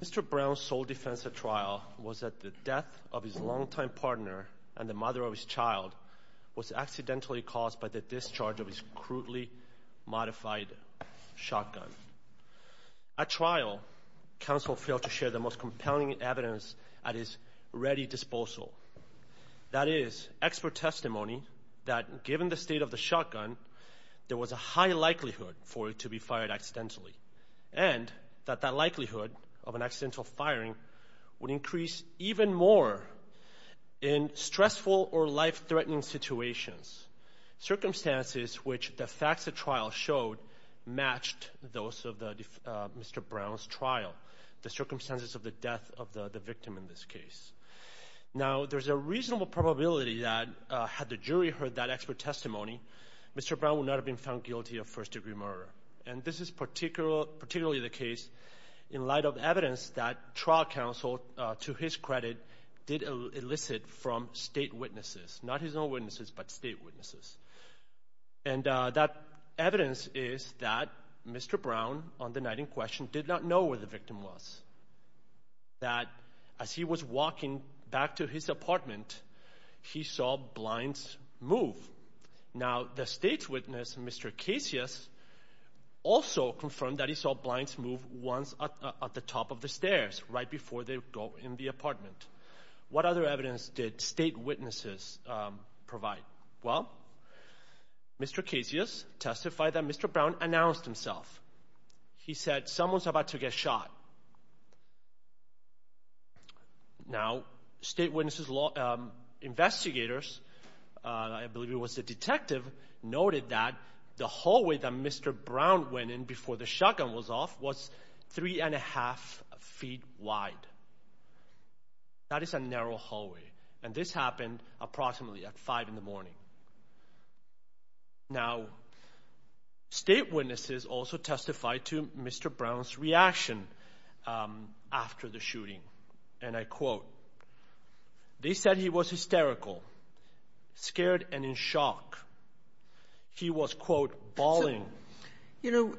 Mr. Brown's sole defense at trial was that the death of his longtime partner and the mother of his child was accidentally caused by the discharge of his crudely modified shotgun. At trial, counsel failed to share the most compelling evidence at his ready disposal, that is, expert testimony that, given the state of the shotgun, there was a high likelihood for it to be fired accidentally, and that that likelihood of an accidental firing would increase even more in stressful or life-threatening situations, circumstances which the facts of trial showed matched those of the trial. Now, there's a reasonable probability that, had the jury heard that expert testimony, Mr. Brown would not have been found guilty of first-degree murder, and this is particularly the case in light of evidence that trial counsel, to his credit, did elicit from state witnesses, not his own witnesses, but state witnesses. And that evidence is that Mr. Brown, on the night in question, did not know where the victim was, that as he was walking back to his apartment, he saw blinds move. Now, the state witness, Mr. Casius, also confirmed that he saw blinds move once at the top of the stairs right before they go in the apartment. What other evidence did state witnesses provide? Well, Mr. Casius testified that Mr. Brown announced himself. He said, someone's about to get shot. Now, state witnesses, investigators, I believe it was the detective, noted that the hallway that Mr. Brown went in before the shotgun was off was three and a half feet wide. That is a narrow hallway, and this happened approximately at five in the morning. Now, state witnesses also testified to Mr. Brown's reaction after the shooting, and I quote, they said he was hysterical, scared, and in shock. He was, quote, bawling. You know,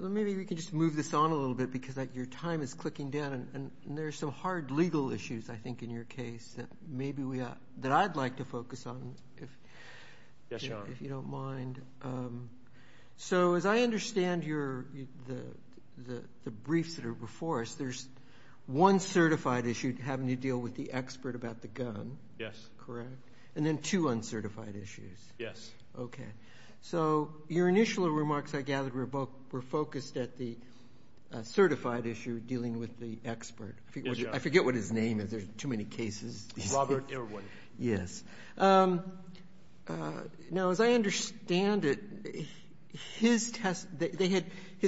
maybe we can just move this on a little bit, because your time is clicking down, and there's some hard legal issues, I think, in your case that I'd like to focus on, if you don't mind. So, as I understand the briefs that are before us, there's one certified issue having to deal with the expert about the gun, correct? Yes. And then two uncertified issues. Yes. Okay. So, your initial remarks, I gather, were focused at the certified issue dealing with the expert. Yes. I forget what his name is. There's too many cases. Robert Irwin. Yes. Now, as I understand it, his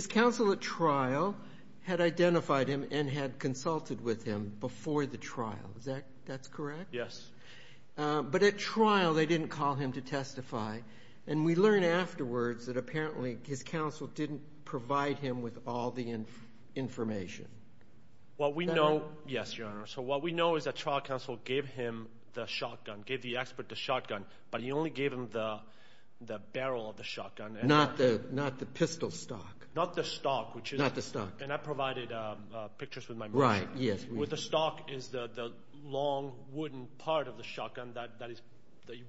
counsel at trial had identified him and had consulted with him before the trial. Is that correct? Yes. But at trial, they didn't call him to testify, and we learned afterwards that apparently his counsel didn't provide him with all the information. Yes, Your Honor. So, what we know is that trial counsel gave him the shotgun, gave the expert the shotgun, but he only gave him the barrel of the shotgun. Not the pistol stock. Not the stock. Not the stock. And I provided pictures with my motion. Right. Yes. With the stock is the long, wooden part of the shotgun that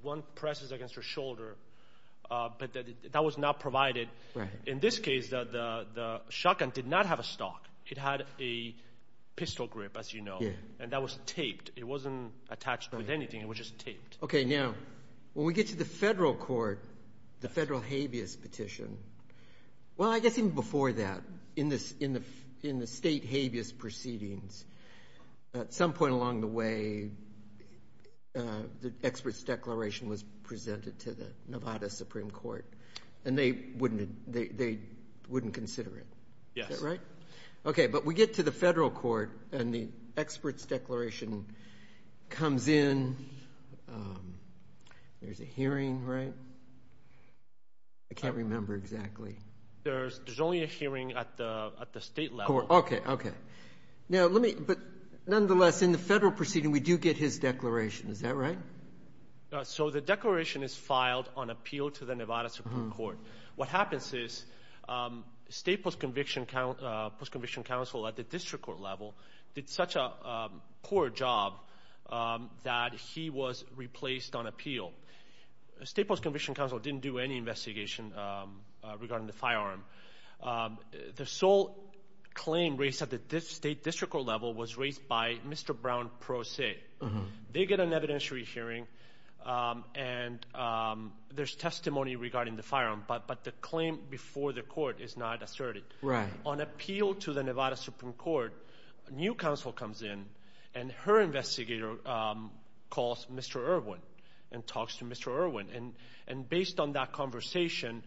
one presses against your shoulder, but that was not provided. Right. In this case, the shotgun did not have a stock. It had a pistol grip, as you know. Yes. And that was taped. It wasn't attached with anything. It was just taped. Okay. Now, when we get to the federal court, the federal habeas petition, well, I guess even before that, in the state habeas proceedings, at some point along the way, the expert's declaration was presented to the Nevada Supreme Court, and they wouldn't consider it. Yes. Is that right? Okay. But we get to the federal court, and the expert's declaration comes in. There's a hearing, right? I can't remember exactly. There's only a hearing at the state level. Okay. Okay. Now, let me – but nonetheless, in the federal proceeding, we do get his declaration. Is that right? So the declaration is filed on appeal to the Nevada Supreme Court. What happens is state post-conviction counsel at the district court level did such a poor job that he was replaced on appeal. State post-conviction counsel didn't do any investigation regarding the firearm. The sole claim raised at the state district court level was raised by Mr. Brown Pro Se. They get an evidentiary hearing, and there's testimony regarding the firearm, but the claim before the court is not asserted. Right. On appeal to the Nevada Supreme Court, a new counsel comes in, and her investigator calls Mr. Irwin and talks to Mr. Irwin. And based on that conversation,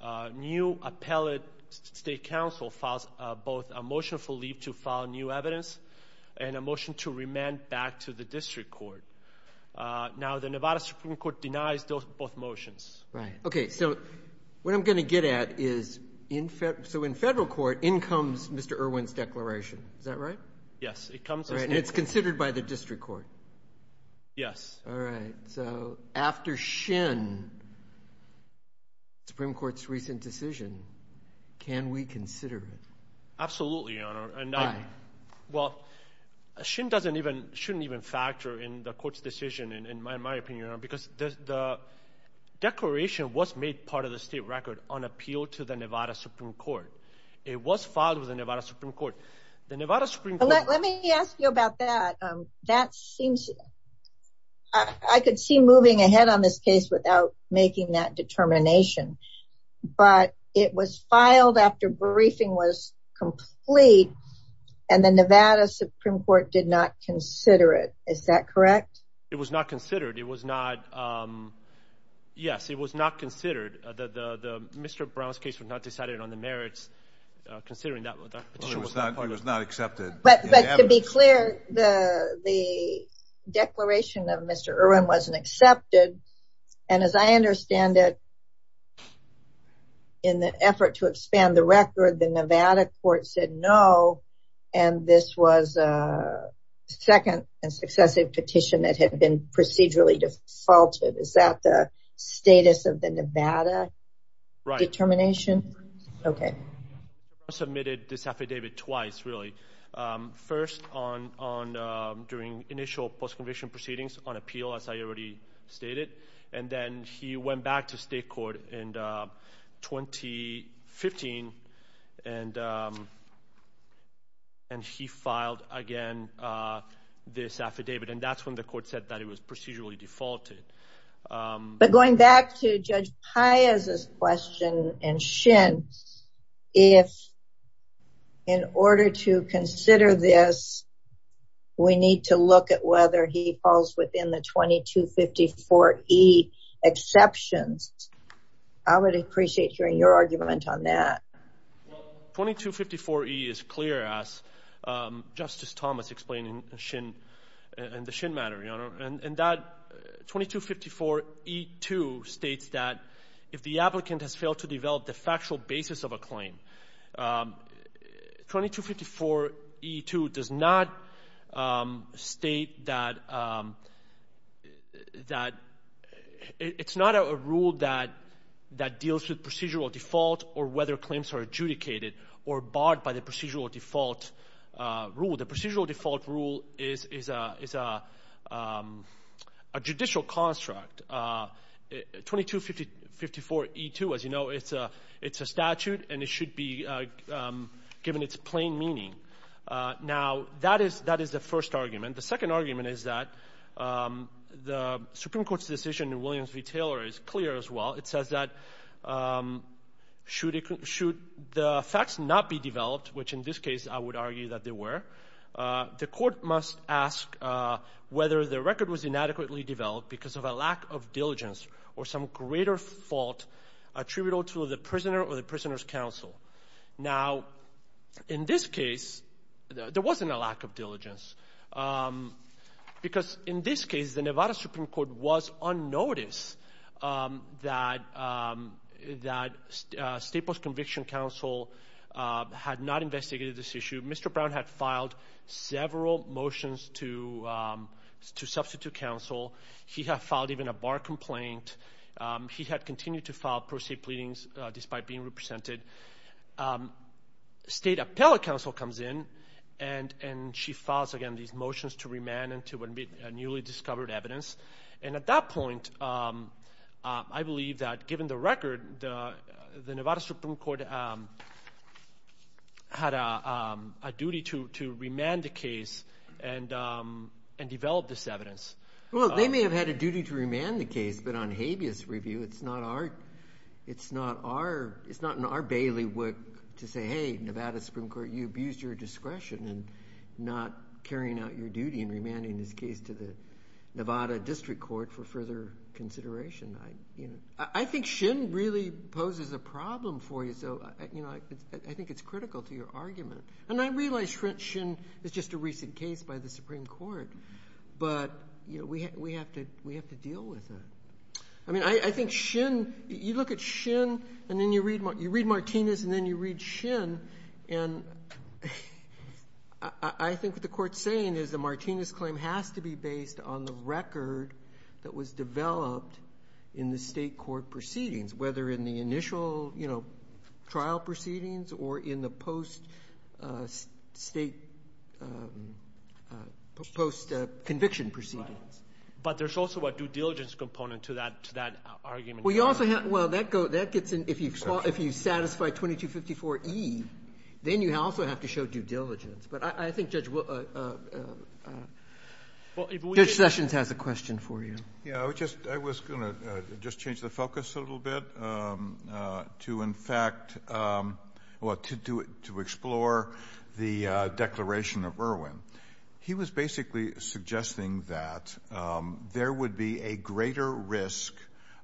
a new appellate state counsel files both a motion for leave to file new evidence and a motion to remand back to the district court. Now, the Nevada Supreme Court denies both motions. Right. Okay. So what I'm going to get at is in – so in federal court, in comes Mr. Irwin's declaration. Is that right? Yes, it comes – And it's considered by the district court. Yes. All right. So after Shin, Supreme Court's recent decision, can we consider it? Absolutely, Your Honor. Why? Well, Shin doesn't even – shouldn't even factor in the court's decision, in my opinion, Your Honor, because the declaration was made part of the state record on appeal to the Nevada Supreme Court. It was filed with the Nevada Supreme Court. The Nevada Supreme Court – I could see moving ahead on this case without making that determination, but it was filed after briefing was complete, and the Nevada Supreme Court did not consider it. Is that correct? It was not considered. It was not – yes, it was not considered. The – Mr. Brown's case was not decided on the merits, considering that – It was not accepted. But to be clear, the declaration of Mr. Irwin wasn't accepted, and as I understand it, in the effort to expand the record, the Nevada court said no, and this was a second and successive petition that had been procedurally defaulted. Is that the status of the Nevada determination? Right. Okay. Mr. Brown submitted this affidavit twice, really. First on – during initial post-conviction proceedings on appeal, as I already stated, and then he went back to state court in 2015, and he filed again this affidavit, and that's when the court said that it was procedurally defaulted. But going back to Judge Paez's question and Shin's, if in order to consider this, we need to look at whether he falls within the 2254E exceptions, I would appreciate hearing your argument on that. Well, 2254E is clear, as Justice Thomas explained in the Shin matter, Your Honor, and that 2254E2 states that if the applicant has failed to develop the factual basis of a claim, 2254E2 does not state that it's not a rule that deals with procedural default or whether claims are adjudicated or barred by the procedural default rule. The procedural default rule is a judicial construct. 2254E2, as you know, it's a statute, and it should be given its plain meaning. Now, that is the first argument. The second argument is that the Supreme Court's decision in Williams v. Taylor is clear as well. It says that should the facts not be developed, which in this case I would argue that they were, the court must ask whether the record was inadequately developed because of a lack of diligence or some greater fault attributable to the prisoner or the prisoner's counsel. Now, in this case, there wasn't a lack of diligence, because in this case the Nevada Supreme Court was unnoticed that state post-conviction counsel had not investigated this issue. Mr. Brown had filed several motions to substitute counsel. He had filed even a bar complaint. He had continued to file pro se pleadings despite being represented. State appellate counsel comes in, and she files, again, these motions to remand and to admit newly discovered evidence. And at that point, I believe that given the record, the Nevada Supreme Court had a duty to remand the case and develop this evidence. Well, they may have had a duty to remand the case, but on habeas review, it's not in our bailiwick to say, hey, Nevada Supreme Court, you abused your discretion in not carrying out your duty in remanding this case to the Nevada District Court for further consideration. I think Shin really poses a problem for you, so I think it's critical to your argument. And I realize Shin is just a recent case by the Supreme Court, but we have to deal with that. I mean, I think Shin, you look at Shin, and then you read Martinez, and then you read Shin, and I think what the Court's saying is the Martinez claim has to be based on the record that was developed in the state court proceedings, whether in the initial trial proceedings or in the post-state, post-conviction proceedings. But there's also a due diligence component to that argument. Well, you also have to go to that. If you satisfy 2254E, then you also have to show due diligence. But I think Judge Sessions has a question for you. Yeah, I was going to just change the focus a little bit to, in fact, to explore the declaration of Irwin. He was basically suggesting that there would be a greater risk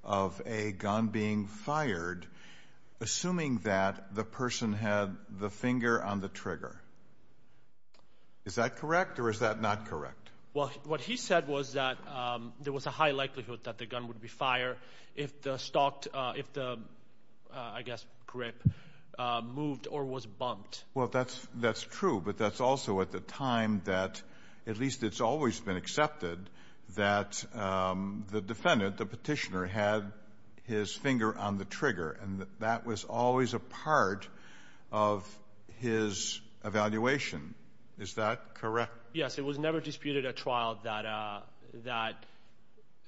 of a gun being fired, assuming that the person had the finger on the trigger. Is that correct, or is that not correct? Well, what he said was that there was a high likelihood that the gun would be fired if the, I guess, grip moved or was bumped. Well, that's true, but that's also at the time that at least it's always been accepted that the defendant, the petitioner, had his finger on the trigger, and that was always a part of his evaluation. Is that correct? Yes, it was never disputed at trial that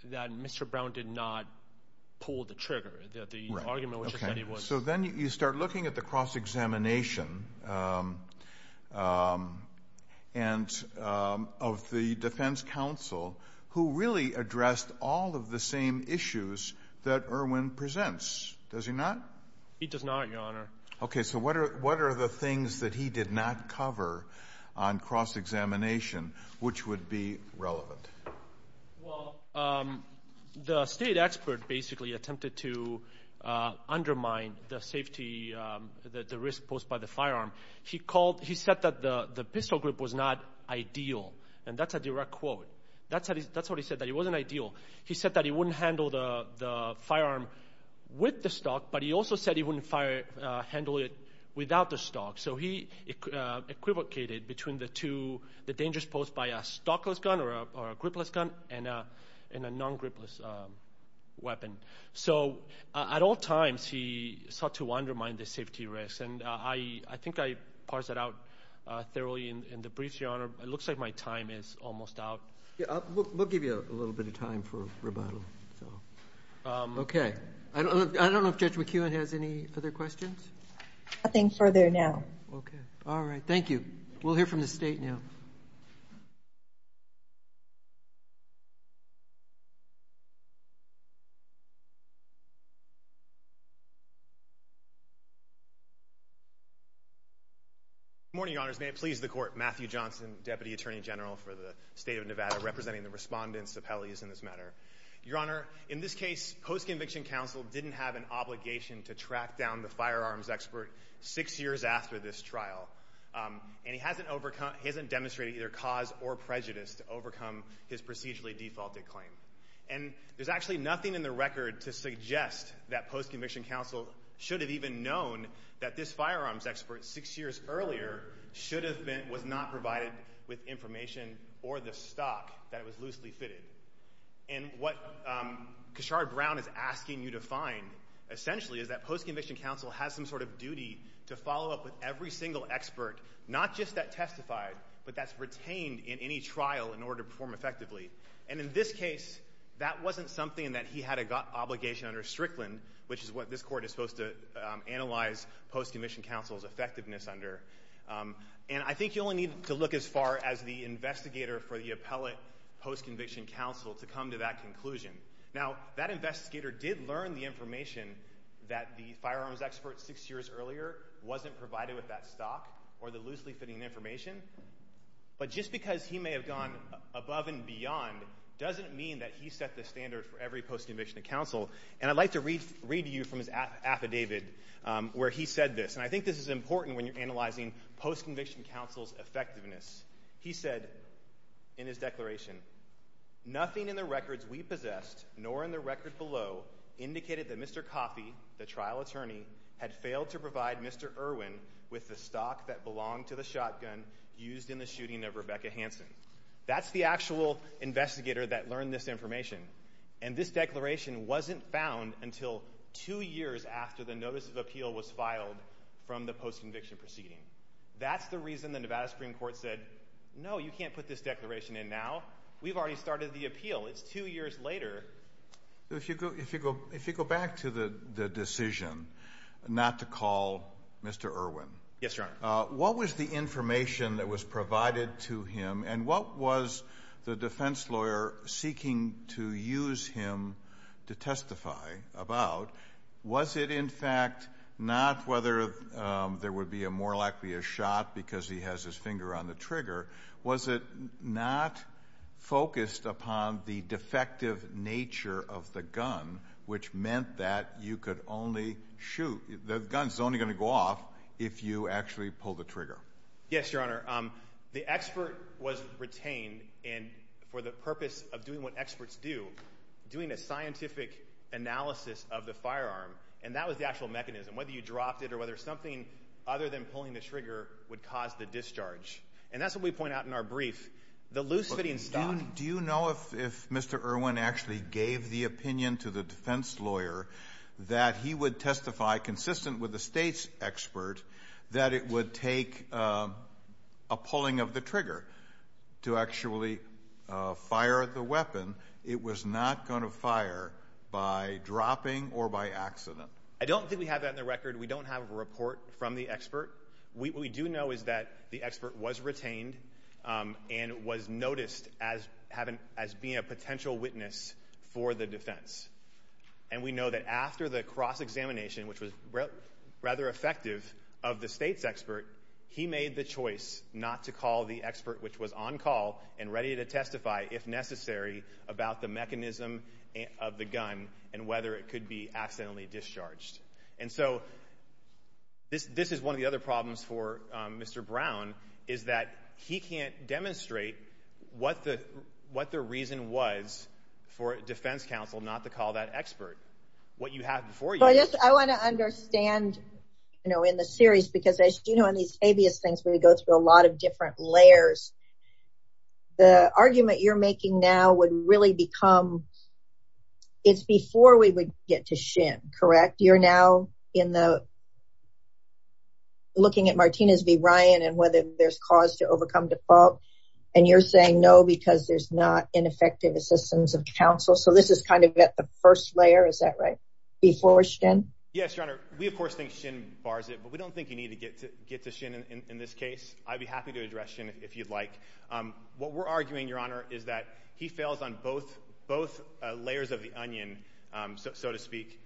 Mr. Brown did not pull the trigger, the argument which he said he was. Okay, so then you start looking at the cross-examination of the defense counsel who really addressed all of the same issues that Irwin presents, does he not? He does not, Your Honor. Okay, so what are the things that he did not cover on cross-examination which would be relevant? Well, the state expert basically attempted to undermine the safety, the risk posed by the firearm. He said that the pistol grip was not ideal, and that's a direct quote. That's what he said, that it wasn't ideal. He said that he wouldn't handle the firearm with the stock, but he also said he wouldn't handle it without the stock. So he equivocated between the dangers posed by a stockless gun or a gripless gun and a non-gripless weapon. So at all times, he sought to undermine the safety risks, and I think I parsed that out thoroughly in the briefs, Your Honor. It looks like my time is almost out. We'll give you a little bit of time for rebuttal. Okay. I don't know if Judge McKeown has any other questions. Nothing further now. Okay. All right, thank you. We'll hear from the state now. Good morning, Your Honors. May it please the Court. Matthew Johnson, Deputy Attorney General for the State of Nevada, representing the respondents to penalties in this matter. Your Honor, in this case, post-conviction counsel didn't have an obligation to track down the firearms expert six years after this trial, and he hasn't demonstrated either cause or prejudice to overcome his procedurally defaulted claim. And there's actually nothing in the record to suggest that post-conviction counsel should have even known that this firearms expert six years earlier should have been, was not provided with information or the stock that it was loosely fitted. And what Kashar Brown is asking you to find, essentially, is that post-conviction counsel has some sort of duty to follow up with every single expert, not just that testified, but that's retained in any trial in order to perform effectively. And in this case, that wasn't something that he had an obligation under Strickland, which is what this Court is supposed to analyze post-conviction counsel's effectiveness under. And I think you only need to look as far as the investigator for the post-conviction counsel to come to that conclusion. Now, that investigator did learn the information that the firearms expert six years earlier wasn't provided with that stock or the loosely fitting information. But just because he may have gone above and beyond doesn't mean that he set the standard for every post-conviction counsel. And I'd like to read to you from his affidavit where he said this, and I think this is important when you're analyzing post-conviction counsel's effectiveness. He said in his declaration, nothing in the records we possessed, nor in the record below indicated that Mr. Coffey, the trial attorney, had failed to provide Mr. Irwin with the stock that belonged to the shotgun used in the shooting of Rebecca Hansen. That's the actual investigator that learned this information. And this declaration wasn't found until two years after the notice of appeal was filed from the post-conviction proceeding. That's the reason the Nevada Supreme Court said, no, you can't put this declaration in now. We've already started the appeal. It's two years later. If you go back to the decision not to call Mr. Irwin. Yes, Your Honor. What was the information that was provided to him and what was the defense lawyer seeking to use him to testify about? Was it in fact, not whether there would be a more likely a shot because he has his finger on the trigger. Was it not focused upon the defective nature of the gun, which meant that you could only shoot, the gun's only going to go off if you actually pull the trigger. Yes, Your Honor. The expert was retained and for the purpose of doing what experts do, doing a scientific analysis of the firearm. And that was the actual mechanism, whether you dropped it or whether something other than pulling the trigger would cause the discharge. And that's what we point out in our brief, the loose fitting stock. Do you know if Mr. Irwin actually gave the opinion to the defense lawyer that he would testify consistent with the state's expert, that it would take a pulling of the trigger to actually fire the weapon. It was not going to fire by dropping or by accident. I don't think we have that in the record. We don't have a report from the expert. We do know is that the expert was retained and was noticed as having, as being a potential witness for the defense. And we know that after the cross examination, which was rather effective of the state's expert, he made the choice not to call the expert, which was on call and ready to testify, if necessary, about the mechanism of the gun and whether it could be accidentally discharged. And so this is one of the other problems for Mr. Brown, is that he can't demonstrate what the reason was for defense counsel not to call that expert. What you have before you. I want to understand, you know, in the series, because as you know, in these habeas things, where you go through a lot of different layers, the argument you're making now would really become it's before we would get to shin, correct? You're now in the looking at Martinez v. Ryan and whether there's cause to overcome default. And you're saying no, because there's not ineffective assistance of counsel. So this is kind of at the first layer. Is that right? Yes, Your Honor. We, of course, think shin bars it, but we don't think you need to get to get to shin in this case. I'd be happy to address you if you'd like. What we're arguing, Your Honor, is that he fails on both, both layers of the onion, so to speak,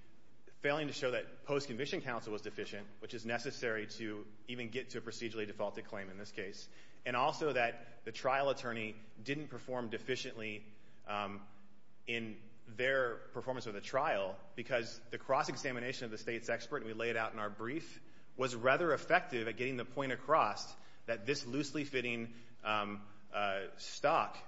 failing to show that post-conviction counsel was deficient, which is necessary to even get to a procedurally defaulted claim in this case, and also that the trial attorney didn't perform deficiently in their performance of the trial because the cross-examination of the state's expert, and we laid out in our brief, was rather effective at getting the point across that this loosely fitting stock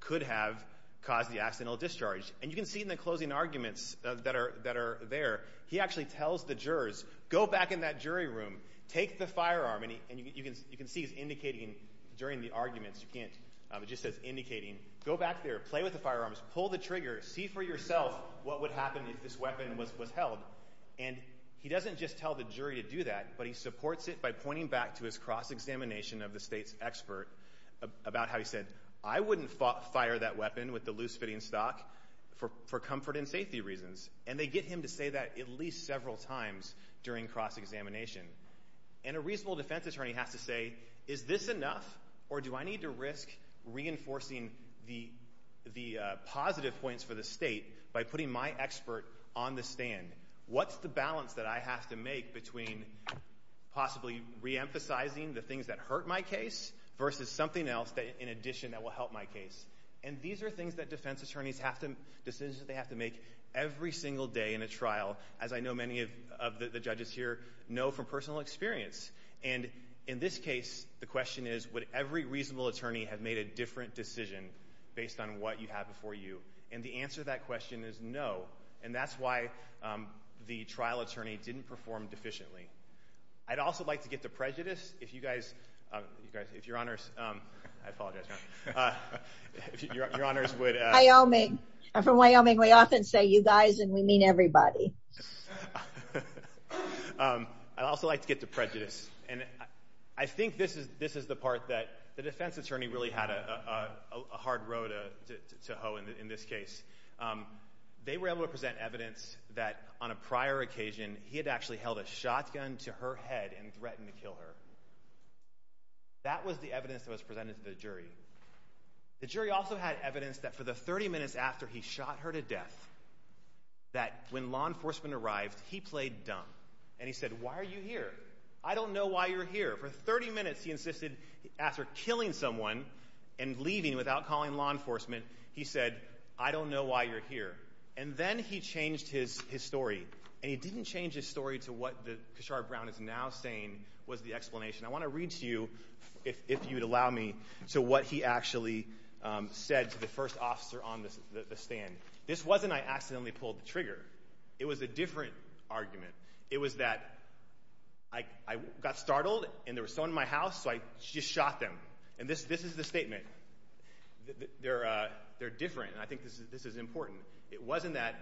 could have caused the accidental discharge. And you can see in the closing arguments that are there, he actually tells the jurors, go back in that jury room, take the firearm, and you can see he's indicating during the arguments, you can't, it just says indicating, go back there, play with the firearms, pull the trigger, see for yourself what would happen if this weapon was held. And he doesn't just tell the jury to do that, but he supports it by pointing back to his cross-examination of the state's expert about how he said, I wouldn't fire that weapon with the loose fitting stock for comfort and safety reasons. And they get him to say that at least several times during cross-examination. And a reasonable defense attorney has to say, is this enough, or do I need to risk reinforcing the positive points for the state by putting my expert on the stand? What's the balance that I have to make between possibly reemphasizing the things that hurt my case versus something else in addition that will help my case? And these are things that defense attorneys have to, decisions that they have to make every single day in a trial, as I know many of the judges here know from personal experience. And in this case, the question is would every reasonable attorney have made a different decision based on what you have before you? And the answer to that question is no. And that's why the trial attorney didn't perform deficiently. I'd also like to get to prejudice. If you guys, if your honors, I apologize. If your honors would. Wyoming. I'm from Wyoming. We often say you guys and we mean everybody. I'd also like to get to prejudice. And I think this is the part that the defense attorney really had a hard road to hoe in this case. They were able to present evidence that on a prior occasion, he had actually held a shotgun to her head and threatened to kill her. That was the evidence that was presented to the jury. The jury also had evidence that for the 30 minutes after he shot her to death, that when law enforcement arrived, he played dumb. And he said, why are you here? I don't know why you're here. For 30 minutes he insisted after killing someone and leaving without calling law enforcement, he said, I don't know why you're here. And then he changed his story. And he didn't change his story to what Kishore Brown is now saying was the explanation. I want to read to you, if you'd allow me, to what he actually said to the first officer on the stand. This wasn't, I accidentally pulled the trigger. It was a different argument. It was that I got startled and there was someone in my house, so I just shot them. And this is the statement. They're different, and I think this is important. It wasn't that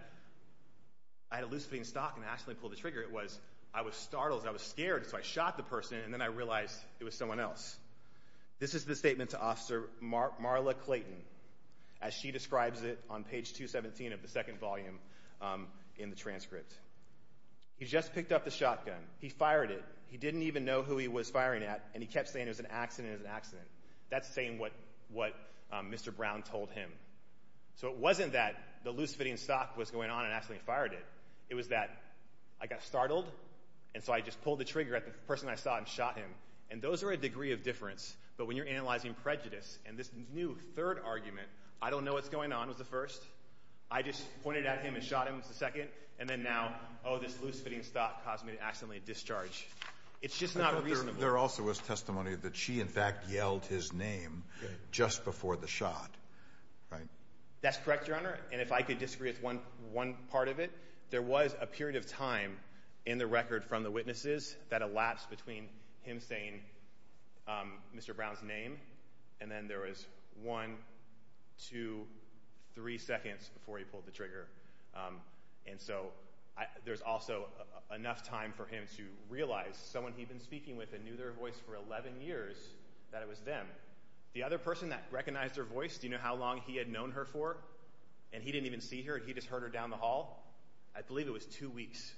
I had a loose-fitting stock and I accidentally pulled the trigger. It was I was startled, I was scared, so I shot the person, and then I realized it was someone else. This is the statement to Officer Marla Clayton. As she describes it on page 217 of the second volume in the transcript. He just picked up the shotgun. He fired it. He didn't even know who he was firing at, and he kept saying it was an accident. That's saying what Mr. Brown told him. So it wasn't that the loose-fitting stock was going on and accidentally fired it. It was that I got startled, and so I just pulled the trigger at the person I saw and shot him. And those are a degree of difference. But when you're analyzing prejudice and this new third argument, I don't know what's going on was the first. I just pointed at him and shot him was the second. And then now, oh, this loose-fitting stock caused me to accidentally discharge. It's just not reasonable. There also was testimony that she, in fact, yelled his name just before the shot. That's correct, Your Honor. And if I could disagree with one part of it, there was a period of time in the record from the witnesses that elapsed between him saying Mr. Brown's name and then there was one, two, three seconds before he pulled the trigger. And so there's also enough time for him to realize someone he'd been speaking with and knew their voice for 11 years, that it was them. The other person that recognized her voice, do you know how long he had known her for? And he didn't even see her. He just heard her down the hall. I believe it was two weeks.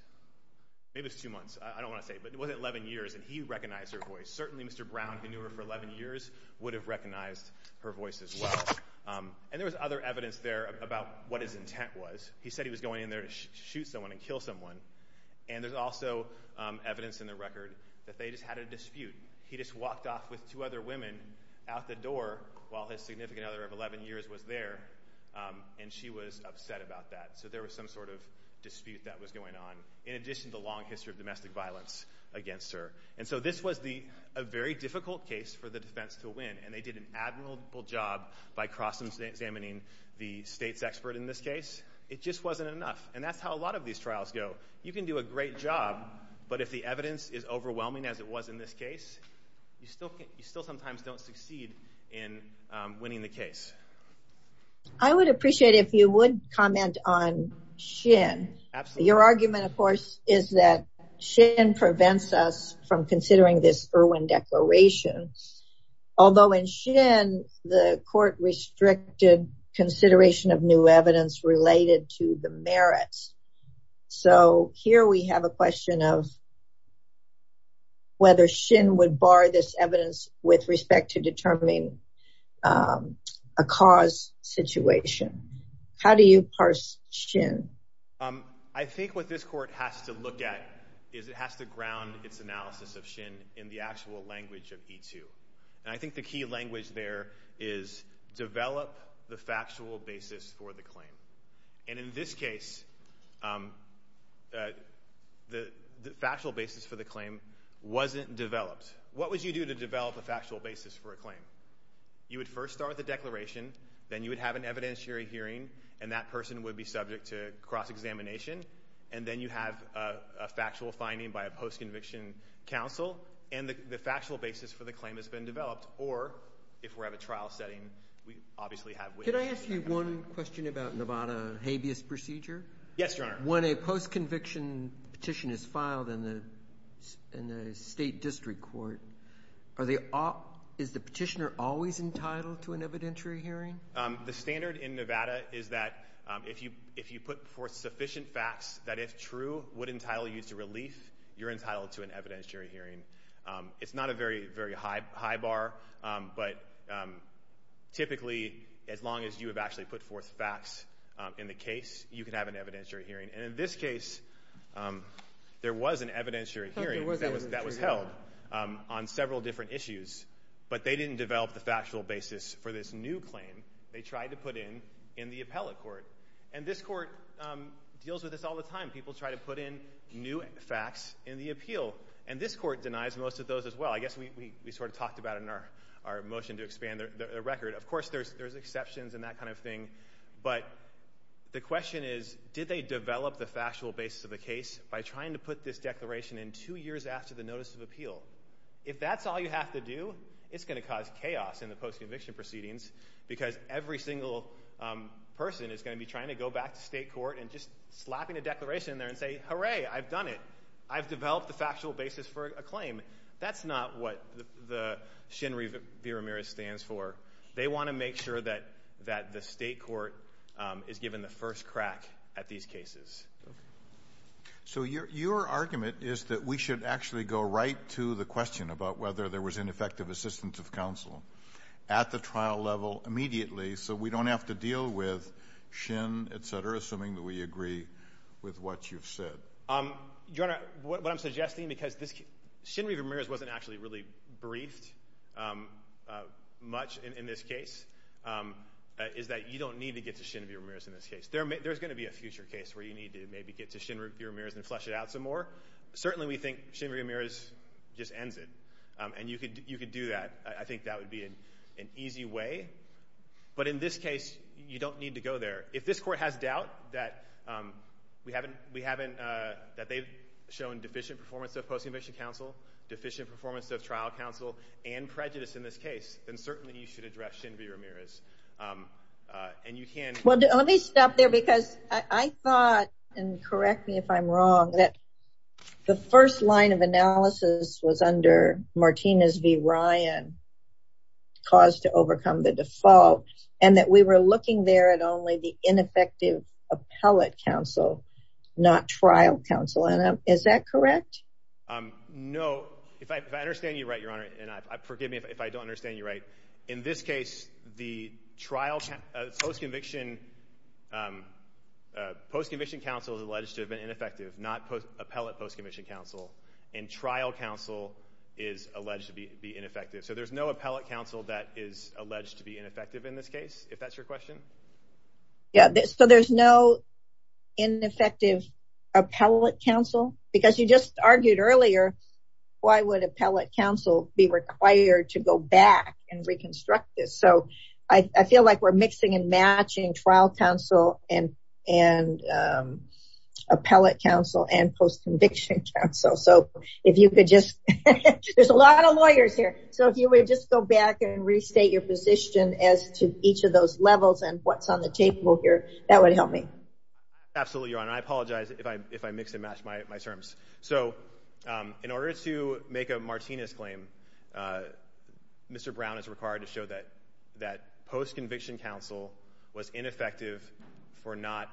Maybe it was two months. I don't want to say. But it was 11 years, and he recognized her voice. Certainly Mr. Brown, who knew her for 11 years, would have recognized her voice as well. And there was other evidence there about what his intent was. He said he was going in there to shoot someone and kill someone. And there's also evidence in the record that they just had a dispute. He just walked off with two other women out the door while his significant other of 11 years was there, and she was upset about that. So there was some sort of dispute that was going on, in addition to the long history of domestic violence against her. And so this was a very difficult case for the defense to win, and they did an admirable job by cross-examining the states expert in this case. It just wasn't enough. And that's how a lot of these trials go. You can do a great job, but if the evidence is overwhelming, as it was in this case, you still sometimes don't succeed in winning the case. I would appreciate it if you would comment on Shin. Your argument, of course, is that Shin prevents us from considering this Irwin Declaration. Although in Shin, the court restricted consideration of new evidence related to the merits. So here we have a question of whether Shin would bar this evidence with respect to determining a cause situation. How do you parse Shin? I think what this court has to look at is it has to ground its analysis of Shin in the actual language of E2. And I think the key language there is develop the factual basis for the claim. And in this case, the factual basis for the claim wasn't developed. What would you do to develop a factual basis for a claim? You would first start with a declaration. Then you would have an evidentiary hearing, and that person would be subject to cross-examination. And then you have a factual finding by a post-conviction counsel, and the factual basis for the claim has been developed. Or if we're at a trial setting, we obviously have witnesses. Yes, Your Honor. When a post-conviction petition is filed in a state district court, is the petitioner always entitled to an evidentiary hearing? The standard in Nevada is that if you put forth sufficient facts that, if true, would entitle you to relief, you're entitled to an evidentiary hearing. It's not a very high bar, but typically as long as you have actually put forth facts in the case, you can have an evidentiary hearing. And in this case, there was an evidentiary hearing that was held on several different issues, but they didn't develop the factual basis for this new claim. They tried to put in in the appellate court. And this court deals with this all the time. People try to put in new facts in the appeal, and this court denies most of those as well. I guess we sort of talked about it in our motion to expand the record. Of course, there's exceptions and that kind of thing, but the question is, did they develop the factual basis of the case by trying to put this declaration in two years after the notice of appeal? If that's all you have to do, it's going to cause chaos in the post-conviction proceedings because every single person is going to be trying to go back to state court and just slapping a declaration in there and say, Hooray, I've done it. I've developed the factual basis for a claim. That's not what the Shinri V. Ramirez stands for. They want to make sure that the state court is given the first crack at these cases. So your argument is that we should actually go right to the question about whether there was ineffective assistance of counsel at the trial level immediately so we don't have to deal with Shin, et cetera, assuming that we agree with what you've said. Your Honor, what I'm suggesting, because Shinri Ramirez wasn't actually really briefed much in this case, is that you don't need to get to Shinri Ramirez in this case. There's going to be a future case where you need to maybe get to Shinri Ramirez and flesh it out some more. Certainly we think Shinri Ramirez just ends it, and you could do that. I think that would be an easy way. But in this case, you don't need to go there. If this court has doubt that they've shown deficient performance of post-conviction counsel, deficient performance of trial counsel, and prejudice in this case, then certainly you should address Shinri Ramirez. Let me stop there because I thought, and correct me if I'm wrong, that the first line of analysis was under Martinez v. Ryan, cause to overcome the default, and that we were looking there at only the ineffective appellate counsel, not trial counsel. Is that correct? No. If I understand you right, Your Honor, and forgive me if I don't understand you right, in this case, the trial post-conviction counsel is alleged to have been ineffective, not appellate post-conviction counsel, and trial counsel is alleged to be ineffective. So there's no appellate counsel that is alleged to be ineffective in this case, if that's your question? Yeah. So there's no ineffective appellate counsel? Because you just argued earlier, why would appellate counsel be required to go back and reconstruct this? So I feel like we're mixing and matching trial counsel and appellate counsel and post-conviction counsel. So if you could just, there's a lot of lawyers here. So if you would just go back and restate your position as to each of those levels and what's on the table here, that would help me. Absolutely, Your Honor. I apologize if I mix and match my terms. So in order to make a Martinez claim, Mr. Brown is required to show that post-conviction counsel was ineffective for not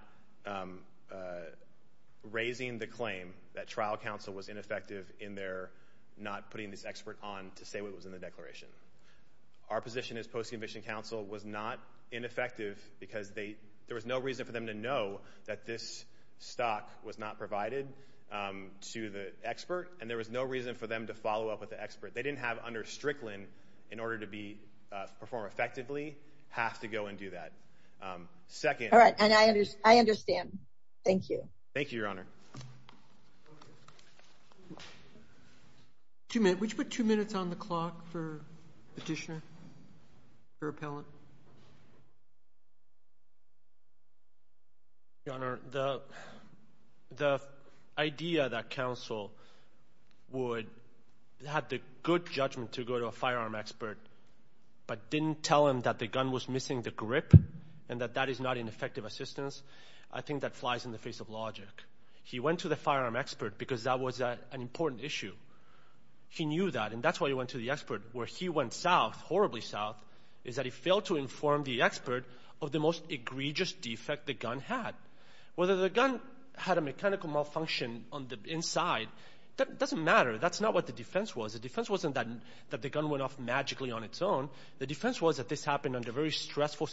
raising the claim that trial counsel was ineffective in their not putting this expert on to say what was in the declaration. Our position is post-conviction counsel was not ineffective because there was no reason for them to know that this stock was not provided to the expert, and there was no reason for them to follow up with the expert. They didn't have under Strickland, in order to perform effectively, have to go and do that. All right, and I understand. Thank you. Thank you, Your Honor. Thank you. Would you put two minutes on the clock for Petitioner, for Appellant? Your Honor, the idea that counsel would have the good judgment to go to a firearm expert but didn't tell him that the gun was missing the grip and that that is not ineffective assistance, I think that flies in the face of logic. He went to the firearm expert because that was an important issue. He knew that, and that's why he went to the expert. Where he went south, horribly south, is that he failed to inform the expert of the most egregious defect the gun had. Whether the gun had a mechanical malfunction on the inside, that doesn't matter. That's not what the defense was. The defense wasn't that the gun went off magically on its own. The defense was that this happened under very stressful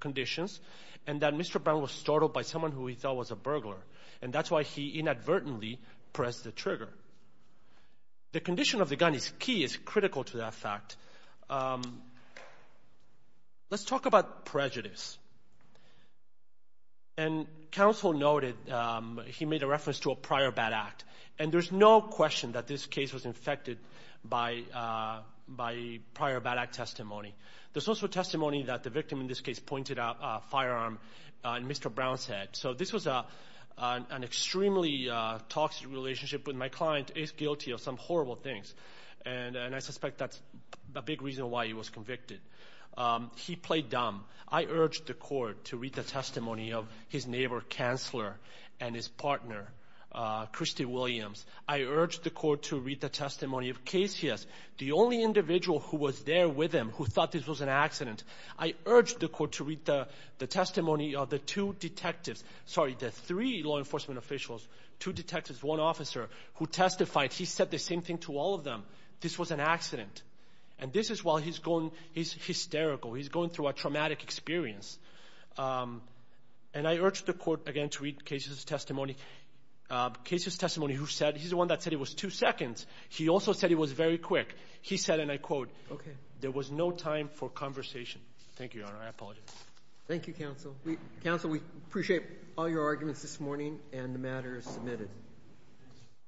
conditions and that Mr. Brown was startled by someone who he thought was a burglar, and that's why he inadvertently pressed the trigger. The condition of the gun is key, is critical to that fact. Let's talk about prejudice. And counsel noted he made a reference to a prior bad act, and there's no question that this case was infected by prior bad act testimony. There's also testimony that the victim in this case pointed out a firearm in Mr. Brown's head. So this was an extremely toxic relationship, but my client is guilty of some horrible things, and I suspect that's a big reason why he was convicted. He played dumb. I urged the court to read the testimony of his neighbor, counselor, and his partner, Christy Williams. I urged the court to read the testimony of Casius, the only individual who was there with him who thought this was an accident. I urged the court to read the testimony of the two detectives. Sorry, the three law enforcement officials, two detectives, one officer, who testified. He said the same thing to all of them. This was an accident. And this is why he's hysterical. He's going through a traumatic experience. And I urged the court, again, to read Casius' testimony. Casius' testimony, he's the one that said it was two seconds. He also said it was very quick. He said, and I quote, there was no time for conversation. Thank you, Your Honor. I apologize. Thank you, counsel. Counsel, we appreciate all your arguments this morning, and the matter is submitted.